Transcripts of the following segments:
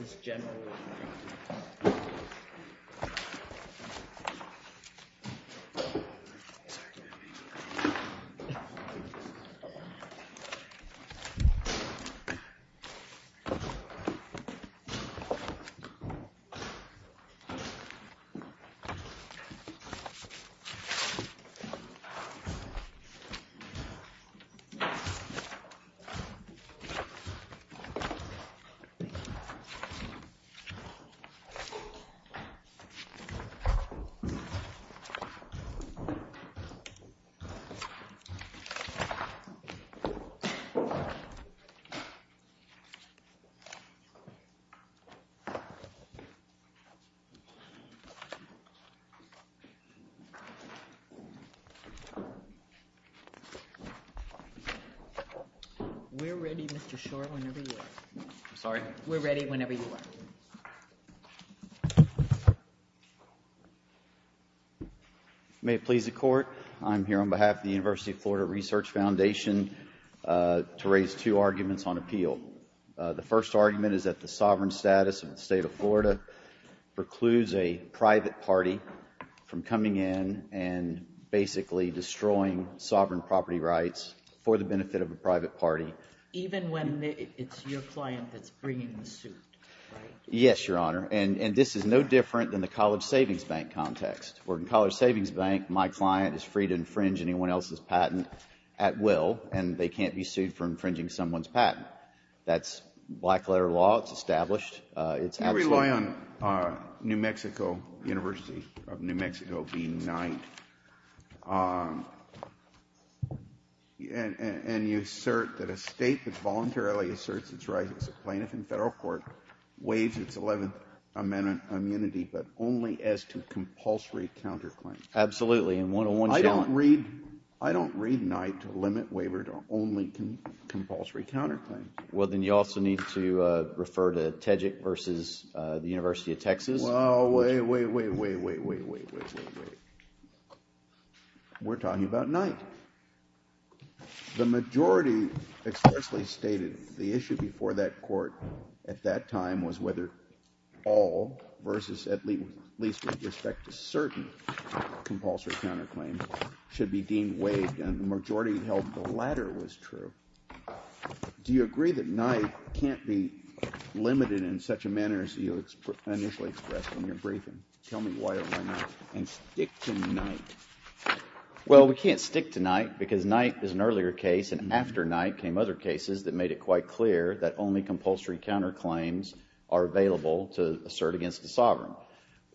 v. General Electric Company We're ready, Mr. Shore, whenever you're ready. I'm sorry? We're ready whenever you are. May it please the Court, I'm here on behalf of the University of Florida Research Foundation to raise two arguments on appeal. The first argument is that the sovereign status of the state of Florida precludes a private party from coming in and basically destroying sovereign property rights for the benefit of a private party. Even when it's your client that's bringing the suit, right? Yes, Your Honor. And this is no different than the College Savings Bank context. Where in College Savings Bank, my client is free to infringe anyone else's patent at will and they can't be sued for infringing someone's patent. That's black letter law. It's established. You rely on New Mexico, University of New Mexico v. Knight. And you assert that a state that voluntarily asserts its rights as a plaintiff in federal court waives its Eleventh Amendment immunity but only as to compulsory counterclaims. Absolutely, in one-on-one challenge. I don't read Knight to limit waiver to only compulsory counterclaims. Well, then you also need to refer to Tejik v. University of Texas. Wait, wait, wait, wait, wait, wait, wait, wait, wait. We're talking about Knight. The majority expressly stated the issue before that court at that time was whether all versus at least with respect to certain compulsory counterclaims should be deemed waived. And the majority held the latter was true. Do you agree that Knight can't be limited in such a manner as you initially expressed in your briefing? Tell me why or why not. And stick to Knight. Well, we can't stick to Knight because Knight is an earlier case and after Knight came other cases that made it quite clear that only compulsory counterclaims are available to assert against the sovereign.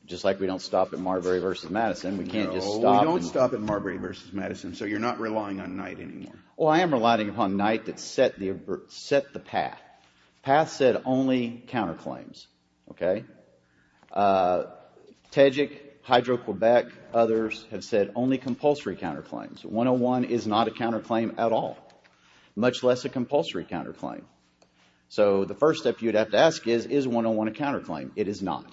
Just like we don't stop at Marbury v. Madison, we can't just stop. No, we don't stop at Marbury v. Madison, so you're not relying on Knight anymore. Well, I am relying upon Knight that set the path. Path said only counterclaims, okay? Tejik, Hydro-Quebec, others have said only compulsory counterclaims. 101 is not a counterclaim at all, much less a compulsory counterclaim. So the first step you'd have to ask is, is 101 a counterclaim? It is not.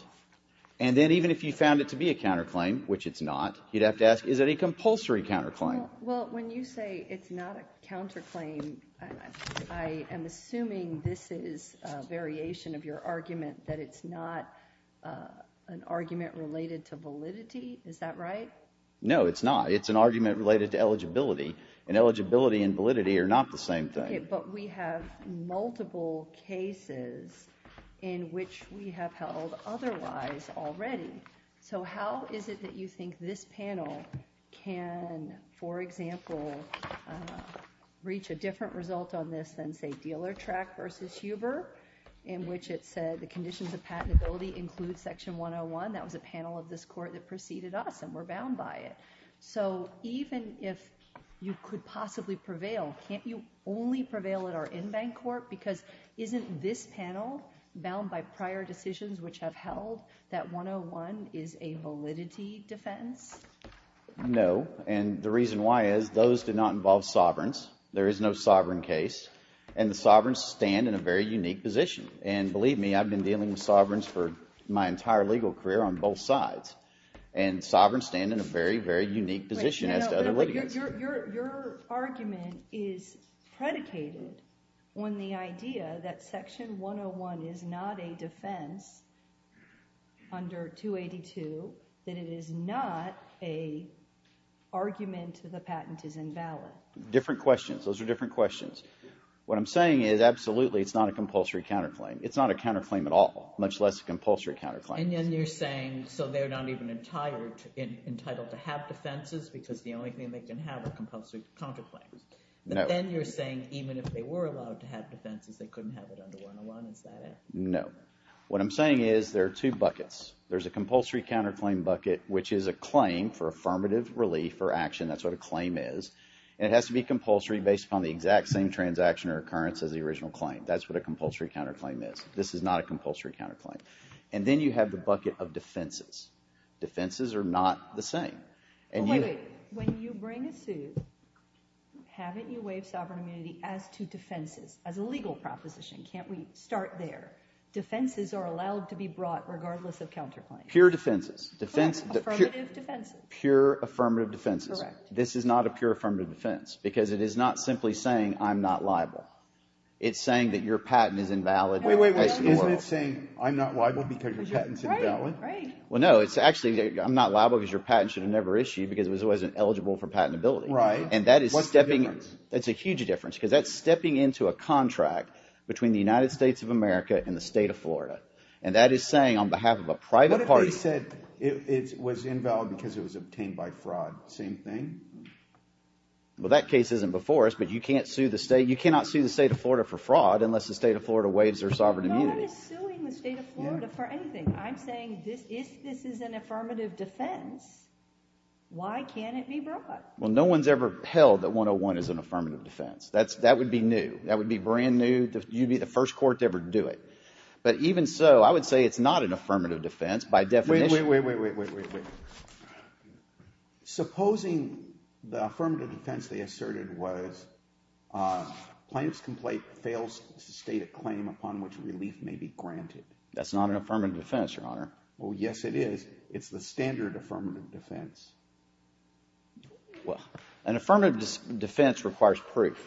And then even if you found it to be a counterclaim, which it's not, you'd have to ask, is it a compulsory counterclaim? Well, when you say it's not a counterclaim, I am assuming this is a variation of your argument that it's not an argument related to validity. Is that right? No, it's not. It's an argument related to eligibility, and eligibility and validity are not the same thing. But we have multiple cases in which we have held otherwise already. So how is it that you think this panel can, for example, reach a different result on this than, say, Dealer Track v. Huber, in which it said the conditions of patentability include Section 101? That was a panel of this Court that preceded us, and we're bound by it. So even if you could possibly prevail, can't you only prevail at our in-bank Court? Because isn't this panel, bound by prior decisions which have held that 101 is a validity defense? No. And the reason why is those do not involve sovereigns. There is no sovereign case. And the sovereigns stand in a very unique position. And believe me, I've been dealing with sovereigns for my entire legal career on both sides. And sovereigns stand in a very, very unique position as to other litigation. Your argument is predicated on the idea that Section 101 is not a defense under 282, that it is not an argument that the patent is invalid. Different questions. Those are different questions. What I'm saying is, absolutely, it's not a compulsory counterclaim. It's not a counterclaim at all, much less a compulsory counterclaim. And then you're saying, so they're not even entitled to have defenses because the only thing they can have are compulsory counterclaims. But then you're saying even if they were allowed to have defenses, they couldn't have it under 101, is that it? No. What I'm saying is, there are two buckets. There's a compulsory counterclaim bucket, which is a claim for affirmative relief or action. That's what a claim is. And it has to be compulsory based upon the exact same transaction or occurrence as the original claim. That's what a compulsory counterclaim is. This is not a compulsory counterclaim. And then you have the bucket of defenses. Defenses are not the same. Wait, wait. When you bring a suit, haven't you waived sovereign immunity as to defenses, as a legal proposition? Can't we start there? Defenses are allowed to be brought regardless of counterclaim. Pure defenses. Affirmative defenses. Pure affirmative defenses. Correct. This is not a pure affirmative defense because it is not simply saying I'm not liable. It's saying that your patent is invalid. Wait, wait, wait. Isn't it saying I'm not liable because your patent is invalid? Right, right. Well, no, it's actually I'm not liable because your patent should have never issued because it wasn't eligible for patentability. Right. And that is stepping in. What's the difference? It's a huge difference because that's stepping into a contract between the United States of America and the state of Florida. And that is saying on behalf of a private party. What if they said it was invalid because it was obtained by fraud? Same thing? Well, that case isn't before us, but you can't sue the state. You cannot sue the state of Florida for fraud unless the state of Florida waives their sovereign immunity. No one is suing the state of Florida for anything. I'm saying if this is an affirmative defense, why can't it be brought? Well, no one's ever held that 101 is an affirmative defense. That would be new. That would be brand new. You'd be the first court to ever do it. But even so, I would say it's not an affirmative defense by definition. Wait, wait, wait, wait, wait, wait, wait. Supposing the affirmative defense they asserted was plaintiff's complaint fails to state a claim upon which relief may be granted. That's not an affirmative defense, Your Honor. Well, yes, it is. It's the standard affirmative defense. Well, an affirmative defense requires proof,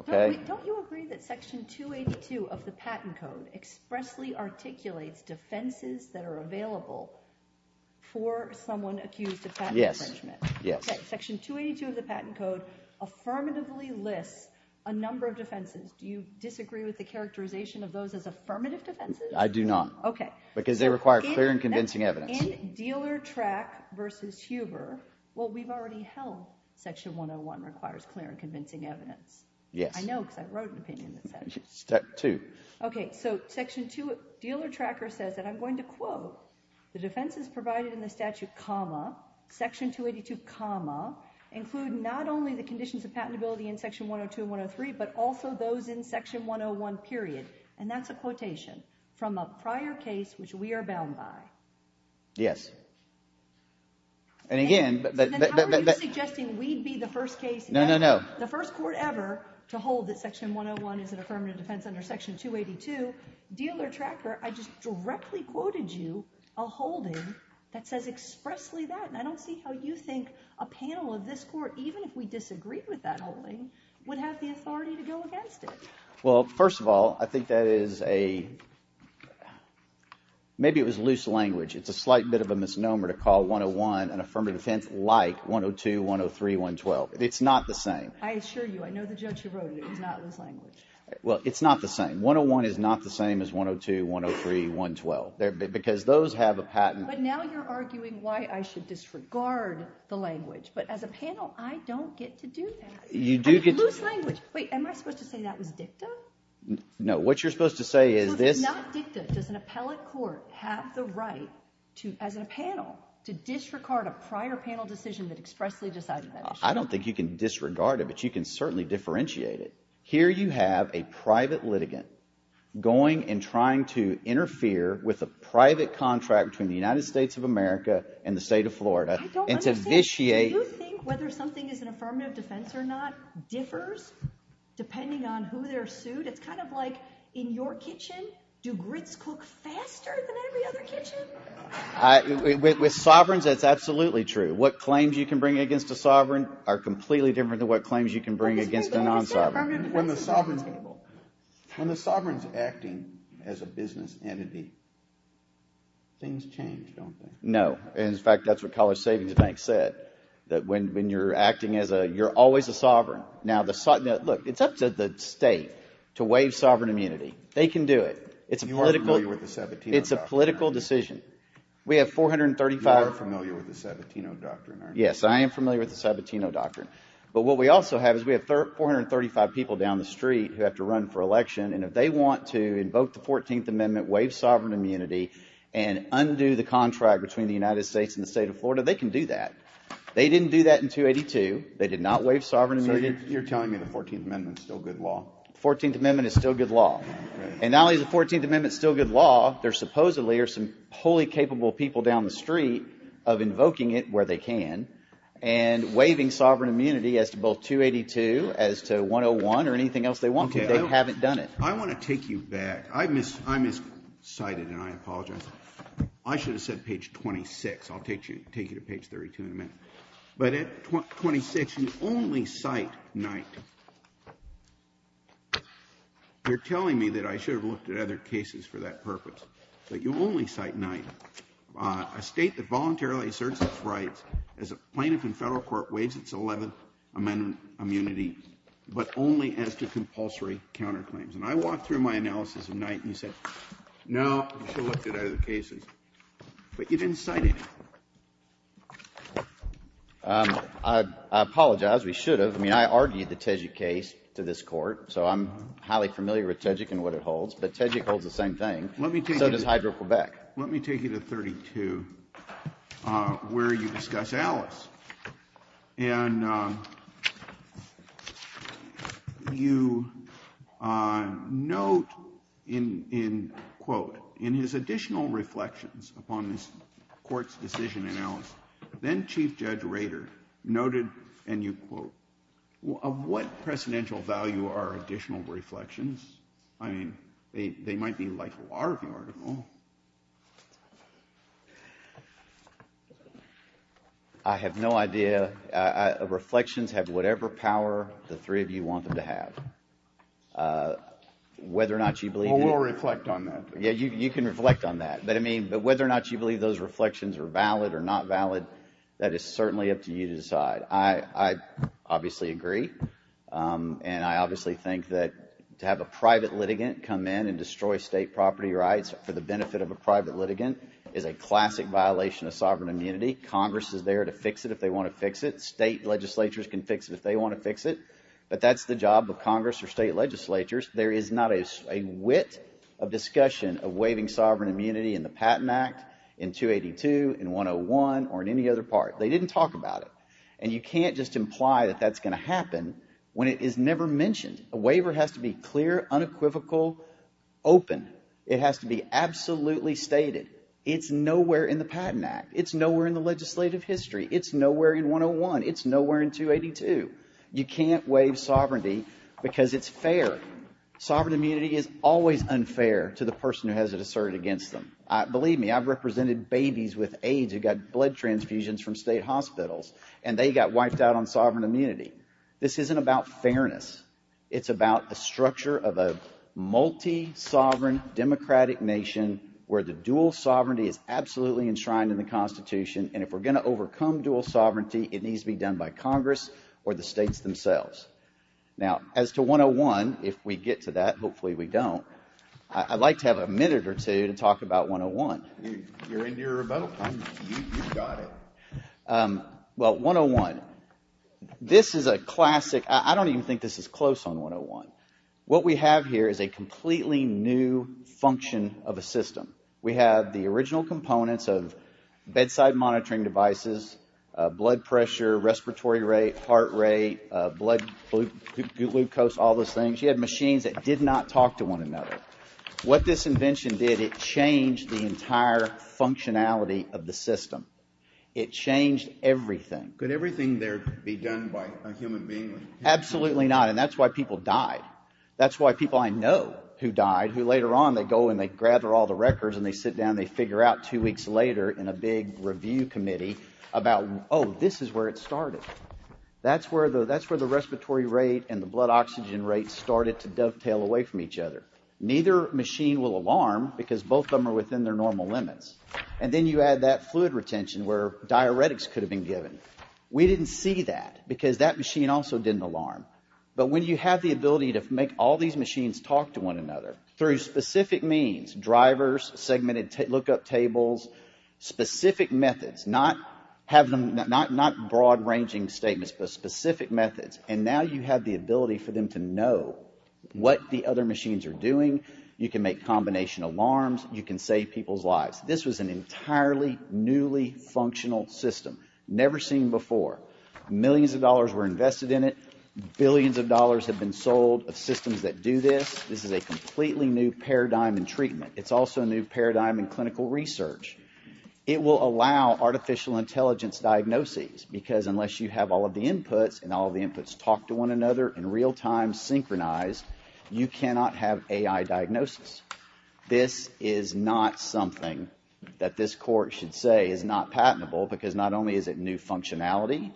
okay? Don't you agree that Section 282 of the Patent Code expressly articulates defenses that are available for someone accused of patent infringement? Yes, yes. Section 282 of the Patent Code affirmatively lists a number of defenses. Do you disagree with the characterization of those as affirmative defenses? I do not. Okay. Because they require clear and convincing evidence. In Dealer-Track v. Huber, what we've already held, Section 101 requires clear and convincing evidence. Yes. I know because I wrote an opinion that says that. Step two. Okay, so Section 2 of Dealer-Tracker says that I'm going to quote the defenses provided in the statute, comma, Section 282, comma, include not only the conditions of patentability in Section 102 and 103, but also those in Section 101, period. And that's a quotation from a prior case which we are bound by. Yes. And again— And I'm not suggesting we'd be the first case— No, no, no. —the first court ever to hold that Section 101 is an affirmative defense under Section 282. Dealer-Tracker, I just directly quoted you a holding that says expressly that, and I don't see how you think a panel of this Court, even if we disagreed with that holding, would have the authority to go against it. Well, first of all, I think that is a— Maybe it was loose language. It's a slight bit of a misnomer to call 101 an affirmative defense like 102, 103, 112. It's not the same. I assure you. I know the judge who wrote it. It was not loose language. Well, it's not the same. 101 is not the same as 102, 103, 112 because those have a patent— But now you're arguing why I should disregard the language. But as a panel, I don't get to do that. You do get to do that. Loose language. Wait. Am I supposed to say that was dicta? No. What you're supposed to say is this— So if it's not dicta, does an appellate court have the right to, as a panel, to disregard a prior panel decision that expressly decided that? I don't think you can disregard it, but you can certainly differentiate it. Here you have a private litigant going and trying to interfere with a private contract between the United States of America and the state of Florida and to vitiate— I don't understand. Do you think whether something is an affirmative defense or not differs depending on who they're sued? It's kind of like in your kitchen, do grits cook faster than every other kitchen? With sovereigns, that's absolutely true. What claims you can bring against a sovereign are completely different than what claims you can bring against a non-sovereign. When the sovereign's acting as a business entity, things change, don't they? No. In fact, that's what College Savings Bank said, that when you're acting as a—you're always a sovereign. Now, look, it's up to the state to waive sovereign immunity. They can do it. It's a political— You are familiar with the Sabatino Doctrine, aren't you? It's a political decision. We have 435— You are familiar with the Sabatino Doctrine, aren't you? Yes, I am familiar with the Sabatino Doctrine. But what we also have is we have 435 people down the street who have to run for election, and if they want to invoke the 14th Amendment, waive sovereign immunity, and undo the contract between the United States and the state of Florida, they can do that. They didn't do that in 282. They did not waive sovereign immunity. So you're telling me the 14th Amendment is still good law? The 14th Amendment is still good law. And not only is the 14th Amendment still good law, there supposedly are some wholly capable people down the street of invoking it where they can and waiving sovereign immunity as to both 282, as to 101, or anything else they want, but they haven't done it. I want to take you back. I miscited, and I apologize. I should have said page 26. I'll take you to page 32 in a minute. But at 26, you only cite Knight. You're telling me that I should have looked at other cases for that purpose, but you only cite Knight, a state that voluntarily asserts its rights as a plaintiff in federal court waives its 11th Amendment immunity, but only as to compulsory counterclaims. And I walked through my analysis of Knight, and you said, no, you should have looked at other cases. But you didn't cite it. I apologize. We should have. I mean, I argued the Tejik case to this Court, so I'm highly familiar with Tejik and what it holds. But Tejik holds the same thing. So does Hydro-Quebec. Let me take you to 32, where you discuss Alice. And you note in, quote, in his additional reflections upon this Court's decision in Alice, then-Chief Judge Rader noted, and you quote, of what precedential value are additional reflections? I mean, they might be, like, large. I have no idea. Reflections have whatever power the three of you want them to have. Whether or not you believe it. Well, we'll reflect on that. Yeah, you can reflect on that. But I mean, whether or not you believe those reflections are valid or not valid, that is certainly up to you to decide. I obviously agree. And I obviously think that to have a private litigant come in and destroy state property rights for the benefit of a private litigant is a classic violation of sovereign immunity. Congress is there to fix it if they want to fix it. State legislatures can fix it if they want to fix it. But that's the job of Congress or state legislatures. There is not a wit of discussion of waiving sovereign immunity in the Patent Act, in 282, in 101, or in any other part. They didn't talk about it. And you can't just imply that that's going to happen when it is never mentioned. A waiver has to be clear, unequivocal, open. It has to be absolutely stated. It's nowhere in the Patent Act. It's nowhere in the legislative history. It's nowhere in 101. It's nowhere in 282. You can't waive sovereignty because it's fair. Sovereign immunity is always unfair to the person who has it asserted against them. Believe me, I've represented babies with AIDS who got blood transfusions from state hospitals. And they got wiped out on sovereign immunity. This isn't about fairness. It's about the structure of a multi-sovereign, democratic nation where the dual sovereignty is absolutely enshrined in the Constitution. And if we're going to overcome dual sovereignty, it needs to be done by Congress or the states themselves. Now, as to 101, if we get to that, hopefully we don't, I'd like to have a minute or two to talk about 101. You're into your remote? You've got it. Well, 101. This is a classic. I don't even think this is close on 101. What we have here is a completely new function of a system. We have the original components of bedside monitoring devices, blood pressure, respiratory rate, heart rate, blood glucose, all those things. You had machines that did not talk to one another. What this invention did, it changed the entire functionality of the system. It changed everything. Could everything there be done by a human being? Absolutely not, and that's why people died. That's why people I know who died, who later on they go and they gather all the records and they sit down and they figure out two weeks later in a big review committee about, oh, this is where it started. That's where the respiratory rate and the blood oxygen rate started to dovetail away from each other. Neither machine will alarm because both of them are within their normal limits. And then you add that fluid retention where diuretics could have been given. We didn't see that because that machine also didn't alarm. But when you have the ability to make all these machines talk to one another through specific means, drivers, segmented look-up tables, specific methods, not broad-ranging statements but specific methods, and now you have the ability for them to know what the other machines are doing, you can make combination alarms, you can save people's lives. This was an entirely newly functional system, never seen before. Millions of dollars were invested in it. Billions of dollars have been sold of systems that do this. This is a completely new paradigm in treatment. It's also a new paradigm in clinical research. It will allow artificial intelligence diagnoses because unless you have all of the inputs and all of the inputs talk to one another in real time, synchronized, you cannot have AI diagnosis. This is not something that this court should say is not patentable because not only is it new functionality,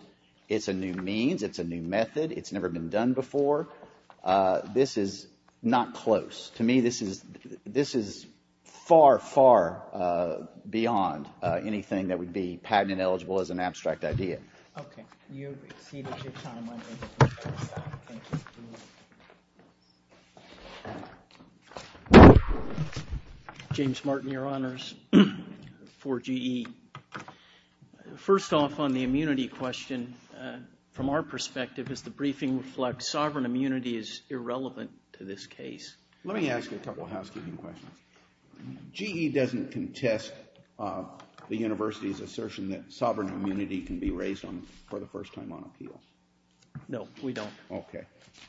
it's a new means, it's a new method, it's never been done before. This is not close. To me, this is far, far beyond anything that would be patent-eligible as an abstract idea. Okay. You've exceeded your time limit. Thank you. James Martin, Your Honors, for GE. First off, on the immunity question, from our perspective, does the briefing reflect sovereign immunity is irrelevant to this case? Let me ask you a couple of housekeeping questions. GE doesn't contest the university's assertion that sovereign immunity can be raised for the first time on appeal. No, we don't. Okay.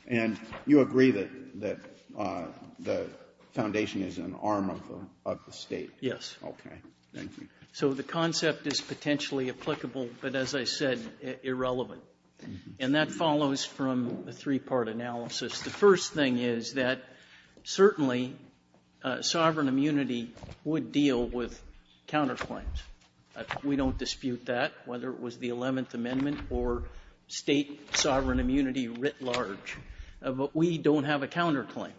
And you agree that the foundation is an arm of the state? Yes. Okay. Thank you. So the concept is potentially applicable, but as I said, irrelevant. And that follows from a three-part analysis. The first thing is that certainly sovereign immunity would deal with counterclaims. We don't dispute that, whether it was the Eleventh Amendment or state sovereign immunity writ large. But we don't have a counterclaim.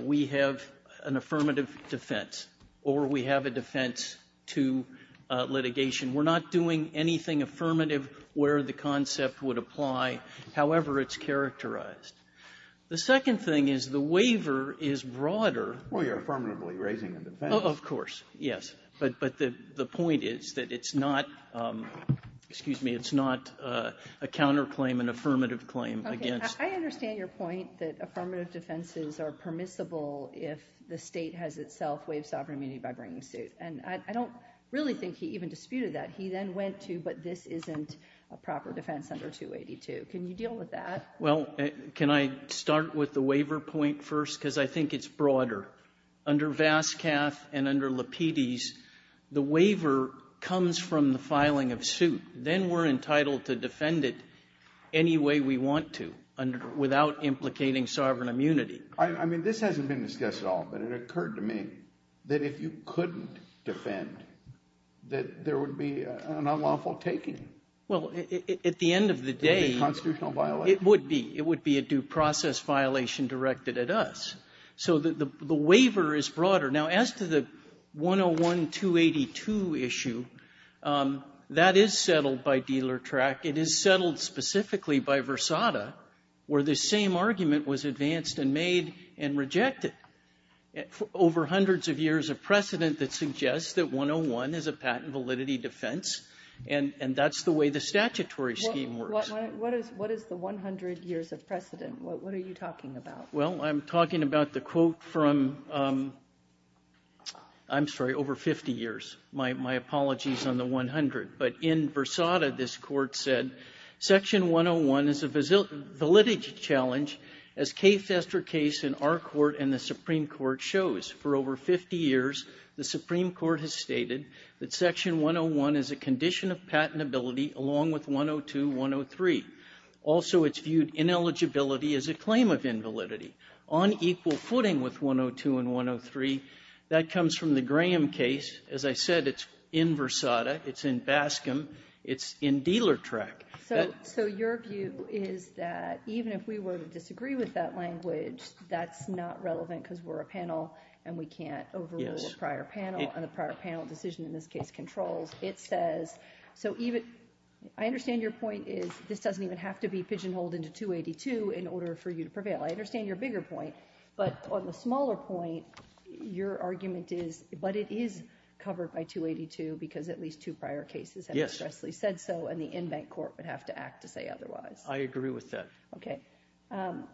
We have an affirmative defense, or we have a defense to litigation. We're not doing anything affirmative where the concept would apply, however it's characterized. The second thing is the waiver is broader. Well, you're affirmatively raising a defense. Of course. Yes. But the point is that it's not, excuse me, it's not a counterclaim, an affirmative claim against. Okay. I understand your point that affirmative defenses are permissible if the state has itself waived sovereign immunity by bringing suit. And I don't really think he even disputed that. He then went to, but this isn't a proper defense under 282. Can you deal with that? Well, can I start with the waiver point first? Because I think it's broader. Under Vascaf and under Lapides, the waiver comes from the filing of suit. Then we're entitled to defend it any way we want to without implicating sovereign immunity. I mean, this hasn't been discussed at all, but it occurred to me that if you couldn't defend, that there would be an unlawful taking. Well, at the end of the day, it would be. It would be a due process violation directed at us. So the waiver is broader. Now, as to the 101-282 issue, that is settled by dealer track. It is settled specifically by Versada, where the same argument was advanced and made and rejected over hundreds of years of precedent that suggests that 101 is a patent validity defense, and that's the way the statutory scheme works. What is the 100 years of precedent? What are you talking about? Well, I'm talking about the quote from, I'm sorry, over 50 years. My apologies on the 100. But in Versada, this court said, section 101 is a validity challenge, as K. Fester case in our court and the Supreme Court shows. For over 50 years, the Supreme Court has stated that section 101 is a condition of patentability along with 102, 103. Also, it's viewed ineligibility as a claim of invalidity. On equal footing with 102 and 103, that comes from the Graham case. As I said, it's in Versada. It's in Bascom. It's in dealer track. So your view is that even if we were to disagree with that language, that's not relevant because we're a panel and we can't overrule a prior panel, and a prior panel decision in this case controls. It says, so even, I understand your point is this doesn't even have to be pigeonholed into 282 in order for you to prevail. I understand your bigger point, but on the smaller point, your argument is, but it is covered by 282 because at least two prior cases have expressly said so, and the in-bank court would have to act to say otherwise. I agree with that. Okay.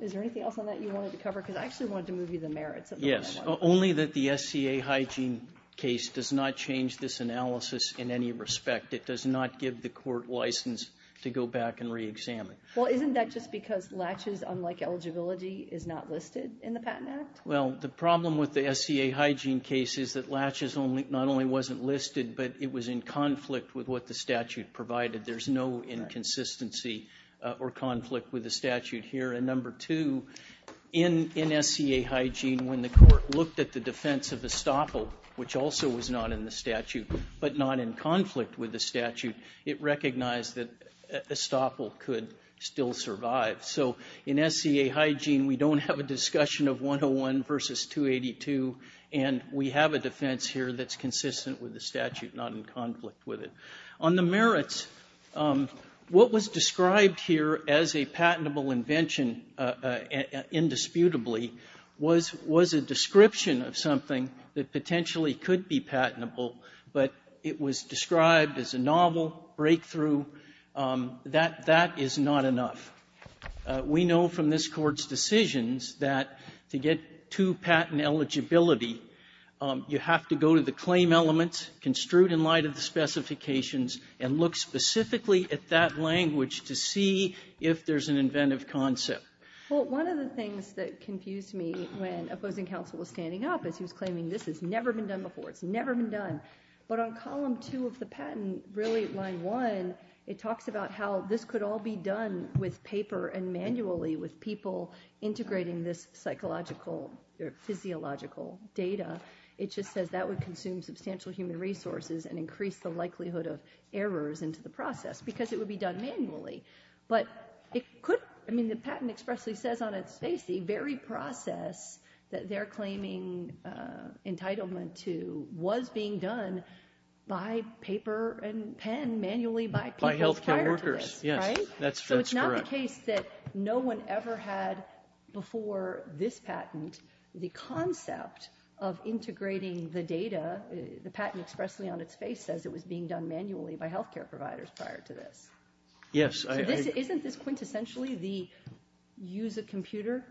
Is there anything else on that you wanted to cover? Because I actually wanted to move you to the merits of that. Yes. Only that the SCA hygiene case does not change this analysis in any respect. It does not give the court license to go back and re-examine. Well, isn't that just because latches, unlike eligibility, is not listed in the Patent Act? Well, the problem with the SCA hygiene case is that latches not only wasn't listed, but it was in conflict with what the statute provided. There's no inconsistency or conflict with the statute here. And number two, in SCA hygiene, when the court looked at the defense of estoppel, which also was not in the statute, but not in conflict with the statute, it recognized that estoppel could still survive. So in SCA hygiene, we don't have a discussion of 101 versus 282, and we have a defense here that's consistent with the statute, not in conflict with it. On the merits, what was described here as a patentable invention, indisputably, was a description of something that potentially could be patentable, but it was described as a novel breakthrough. That is not enough. We know from this Court's decisions that to get to patent eligibility, you have to go to the claim elements, construe it in light of the specifications, and look specifically at that language to see if there's an inventive concept. Well, one of the things that confused me when opposing counsel was standing up is he was claiming this has never been done before, it's never been done. But on column two of the patent, really line one, it talks about how this could all be done with paper and manually, with people integrating this psychological or physiological data. It just says that would consume substantial human resources and increase the likelihood of errors into the process, because it would be done manually. But it could, I mean, the patent expressly says on its face the very process that they're by paper and pen manually by people prior to this, right? By health care workers, yes. That's correct. So it's not the case that no one ever had before this patent the concept of integrating the data, the patent expressly on its face says it was being done manually by health care providers prior to this. Yes. So isn't this quintessentially the use of computer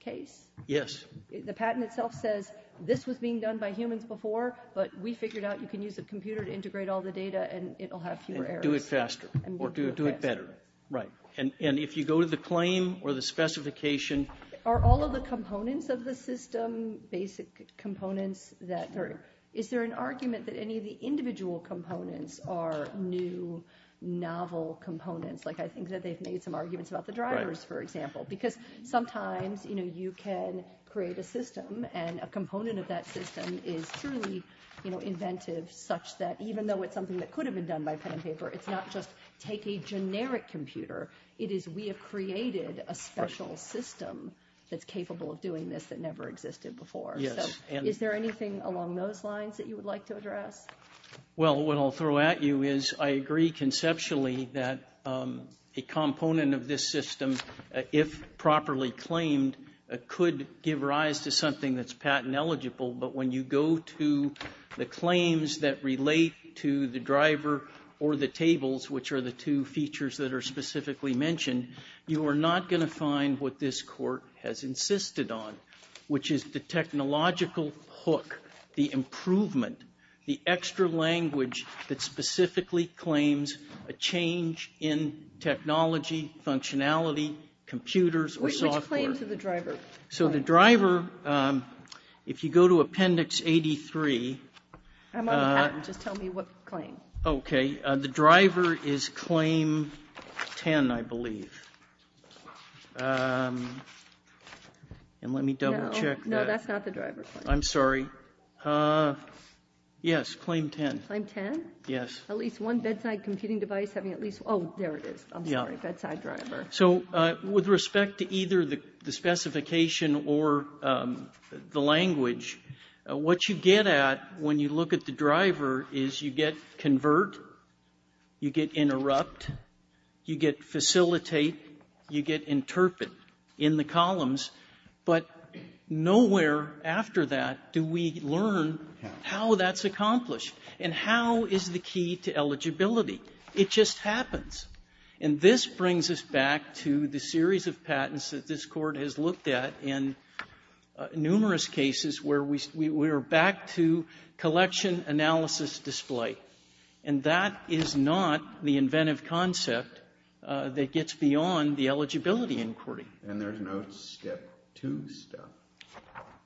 case? Yes. The patent itself says this was being done by humans before, but we figured out you can use a computer to integrate all the data and it will have fewer errors. And do it faster. And do it faster. Or do it better. Right. And if you go to the claim or the specification. Are all of the components of the system basic components that are, is there an argument that any of the individual components are new, novel components? Like I think that they've made some arguments about the drivers, for example. Because sometimes, you know, you can create a system and a component of that system is truly, you know, inventive such that even though it's something that could have been done by pen and paper, it's not just take a generic computer. It is we have created a special system that's capable of doing this that never existed before. Yes. Is there anything along those lines that you would like to address? Well, what I'll throw at you is I agree conceptually that a component of this system, if properly claimed, could give rise to something that's patent eligible. But when you go to the claims that relate to the driver or the tables, which are the two features that are specifically mentioned, you are not going to find what this court has insisted on, which is the technological hook, the improvement, the extra language that specifically claims a change in technology, functionality, computers, or software. Which claims are the driver? So the driver, if you go to Appendix 83. I'm on the patent. Just tell me what claim. Okay. The driver is Claim 10, I believe. And let me double check that. No, that's not the driver. I'm sorry. Yes, Claim 10. Claim 10? Yes. At least one bedside computing device having at least one. Oh, there it is. I'm sorry. Bedside driver. So with respect to either the specification or the language, what you get at when you look at the driver is you get convert, you get interrupt, you get facilitate, you get interpret in the columns. But nowhere after that do we learn how that's accomplished and how is the key to eligibility. It just happens. And this brings us back to the series of patents that this Court has looked at in numerous cases where we are back to collection, analysis, display. And that is not the inventive concept that gets beyond the eligibility inquiry. And there's no step two stuff.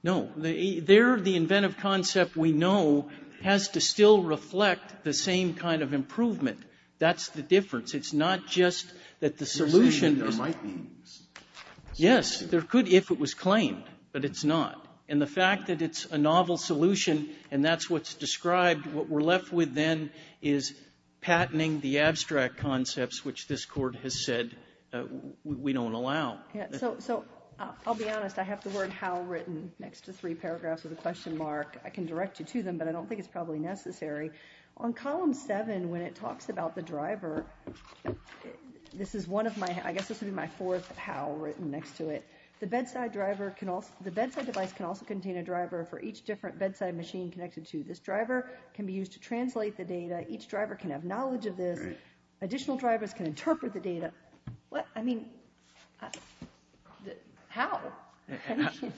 No. There, the inventive concept we know has to still reflect the same kind of improvement. That's the difference. It's not just that the solution is the same. You're saying there might be. Yes. There could if it was claimed. But it's not. And the fact that it's a novel solution and that's what's described, what we're left with then is patenting the abstract concepts, which this Court has said we don't allow. So I'll be honest. I have the word how written next to three paragraphs with a question mark. I can direct you to them, but I don't think it's probably necessary. On column seven, when it talks about the driver, this is one of my, I guess this would be my fourth how written next to it. The bedside device can also contain a driver for each different bedside machine connected to. This driver can be used to translate the data. Each driver can have knowledge of this. Additional drivers can interpret the data. What? I mean, how?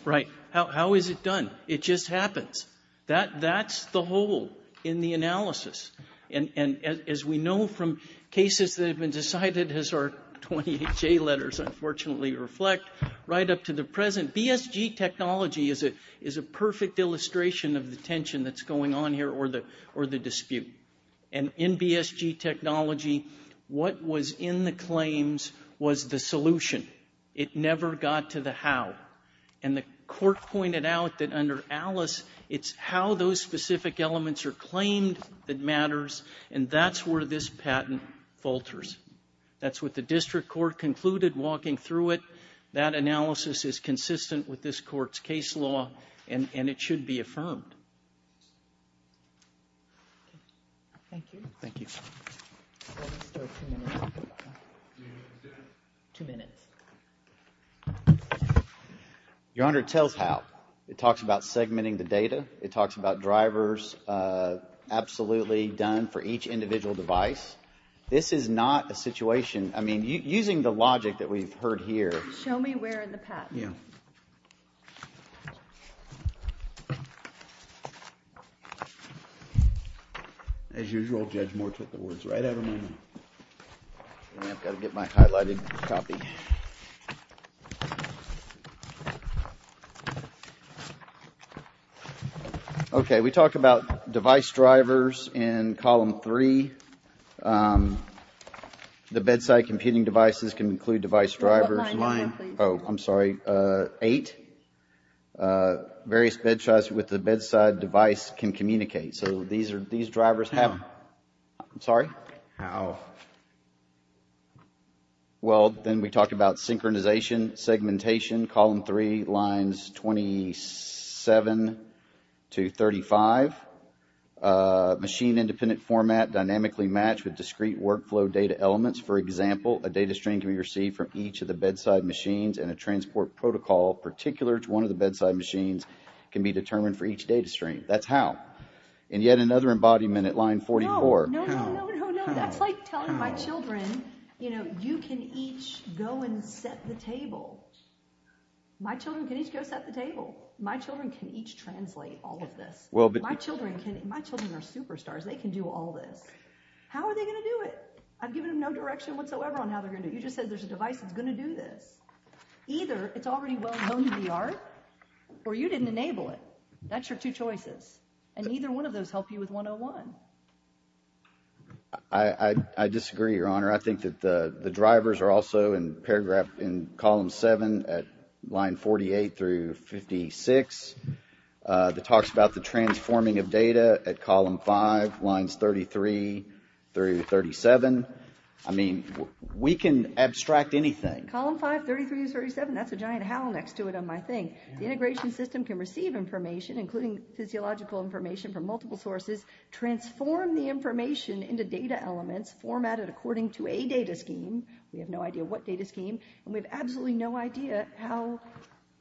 Right. How is it done? It just happens. That's the hole in the analysis. And as we know from cases that have been decided, as our 20HA letters unfortunately reflect, right up to the present, BSG technology is a perfect illustration of the tension that's going on here or the dispute. And in BSG technology, what was in the claims was the solution. It never got to the how. And the court pointed out that under ALICE, it's how those specific elements are claimed that matters, and that's where this patent falters. That's what the district court concluded walking through it. That analysis is consistent with this court's case law, and it should be affirmed. Thank you. Thank you. Your Honor, it tells how. It talks about segmenting the data. It talks about drivers absolutely done for each individual device. This is not a situation, I mean, using the logic that we've heard here. Show me where in the patent. Yeah. As usual, Judge Moore took the words right out of my mouth. I've got to get my highlighted copy. Okay. We talked about device drivers in column three. The bedside computing devices can include device drivers. What line are you on, please? Oh, I'm sorry. Eight. Various bedside devices with the bedside device can communicate. So these drivers have... How? I'm sorry? How? Well, then we talked about synchronization, segmentation, column three, lines 27 to 35. Machine-independent format dynamically matched with discrete workflow data elements. For example, a data stream can be received from each of the bedside machines, and a transport protocol particular to one of the bedside machines can be determined for each data stream. That's how. And yet another embodiment at line 44. No, no, no, no, no, no. That's like telling my children, you know, you can each go and set the table. My children can each go set the table. My children can each translate all of this. My children are superstars. They can do all this. How are they going to do it? I've given them no direction whatsoever on how they're going to do it. You just said there's a device that's going to do this. Either it's already well known to the art, or you didn't enable it. That's your two choices. And neither one of those help you with 101. I disagree, Your Honor. I think that the drivers are also in paragraph in column seven at line 48 through 56. It talks about the transforming of data at column five, lines 33 through 37. I mean, we can abstract anything. Column five, 33 to 37, that's a giant howl next to it on my thing. The integration system can receive information, including physiological information from multiple sources, transform the information into data elements formatted according to a data scheme. We have no idea what data scheme. And we have absolutely no idea how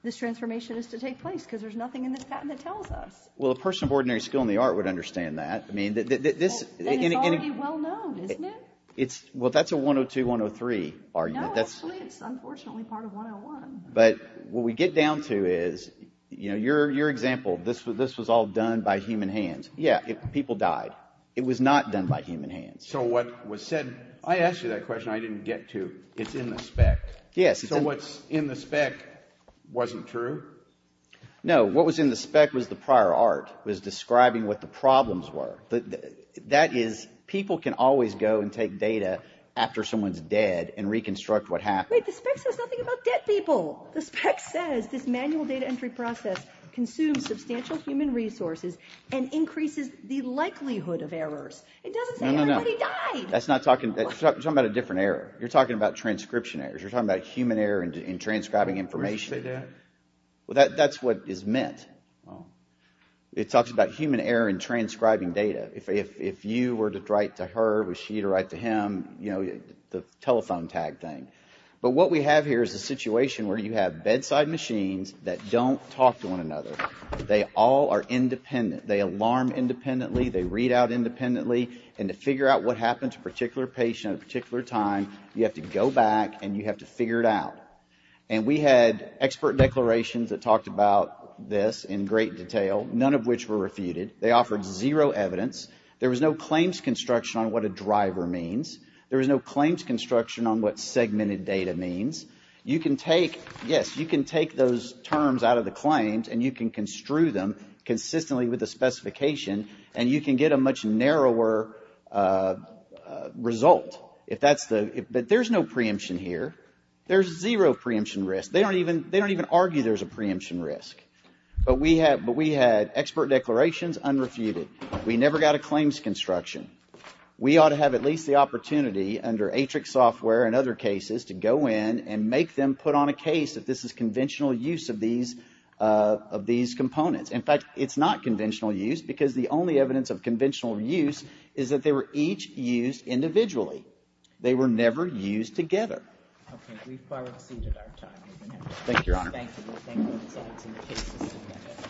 this transformation is to take place because there's nothing in this patent that tells us. Well, a person of ordinary skill in the art would understand that. I mean, this— Then it's already well known, isn't it? Well, that's a 102-103 argument. No, actually, it's unfortunately part of 101. But what we get down to is, you know, your example, this was all done by human hands. Yeah, people died. It was not done by human hands. So what was said—I asked you that question. I didn't get to it's in the spec. Yes. So what's in the spec wasn't true? No, what was in the spec was the prior art, was describing what the problems were. That is, people can always go and take data after someone is dead and reconstruct what happened. Wait, the spec says nothing about dead people. The spec says this manual data entry process consumes substantial human resources and increases the likelihood of errors. It doesn't say everybody died. No, no, no. That's not talking—you're talking about a different error. You're talking about transcription errors. You're talking about human error in transcribing information. Did you say that? Well, that's what is meant. It talks about human error in transcribing data. If you were to write to her, was she to write to him, you know, the telephone tag thing. But what we have here is a situation where you have bedside machines that don't talk to one another. They all are independent. They alarm independently. They read out independently. And to figure out what happened to a particular patient at a particular time, you have to go back and you have to figure it out. And we had expert declarations that talked about this in great detail, none of which were refuted. They offered zero evidence. There was no claims construction on what a driver means. There was no claims construction on what segmented data means. You can take—yes, you can take those terms out of the claims and you can construe them consistently with the specification and you can get a much narrower result. But there's no preemption here. There's zero preemption risk. They don't even argue there's a preemption risk. But we had expert declarations unrefuted. We never got a claims construction. We ought to have at least the opportunity under Atrix Software and other cases to go in and make them put on a case that this is conventional use of these components. In fact, it's not conventional use because the only evidence of conventional use is that they were each used individually. They were never used together. Okay. We've far exceeded our time. Thank you, Your Honor. Thank you. Thank you.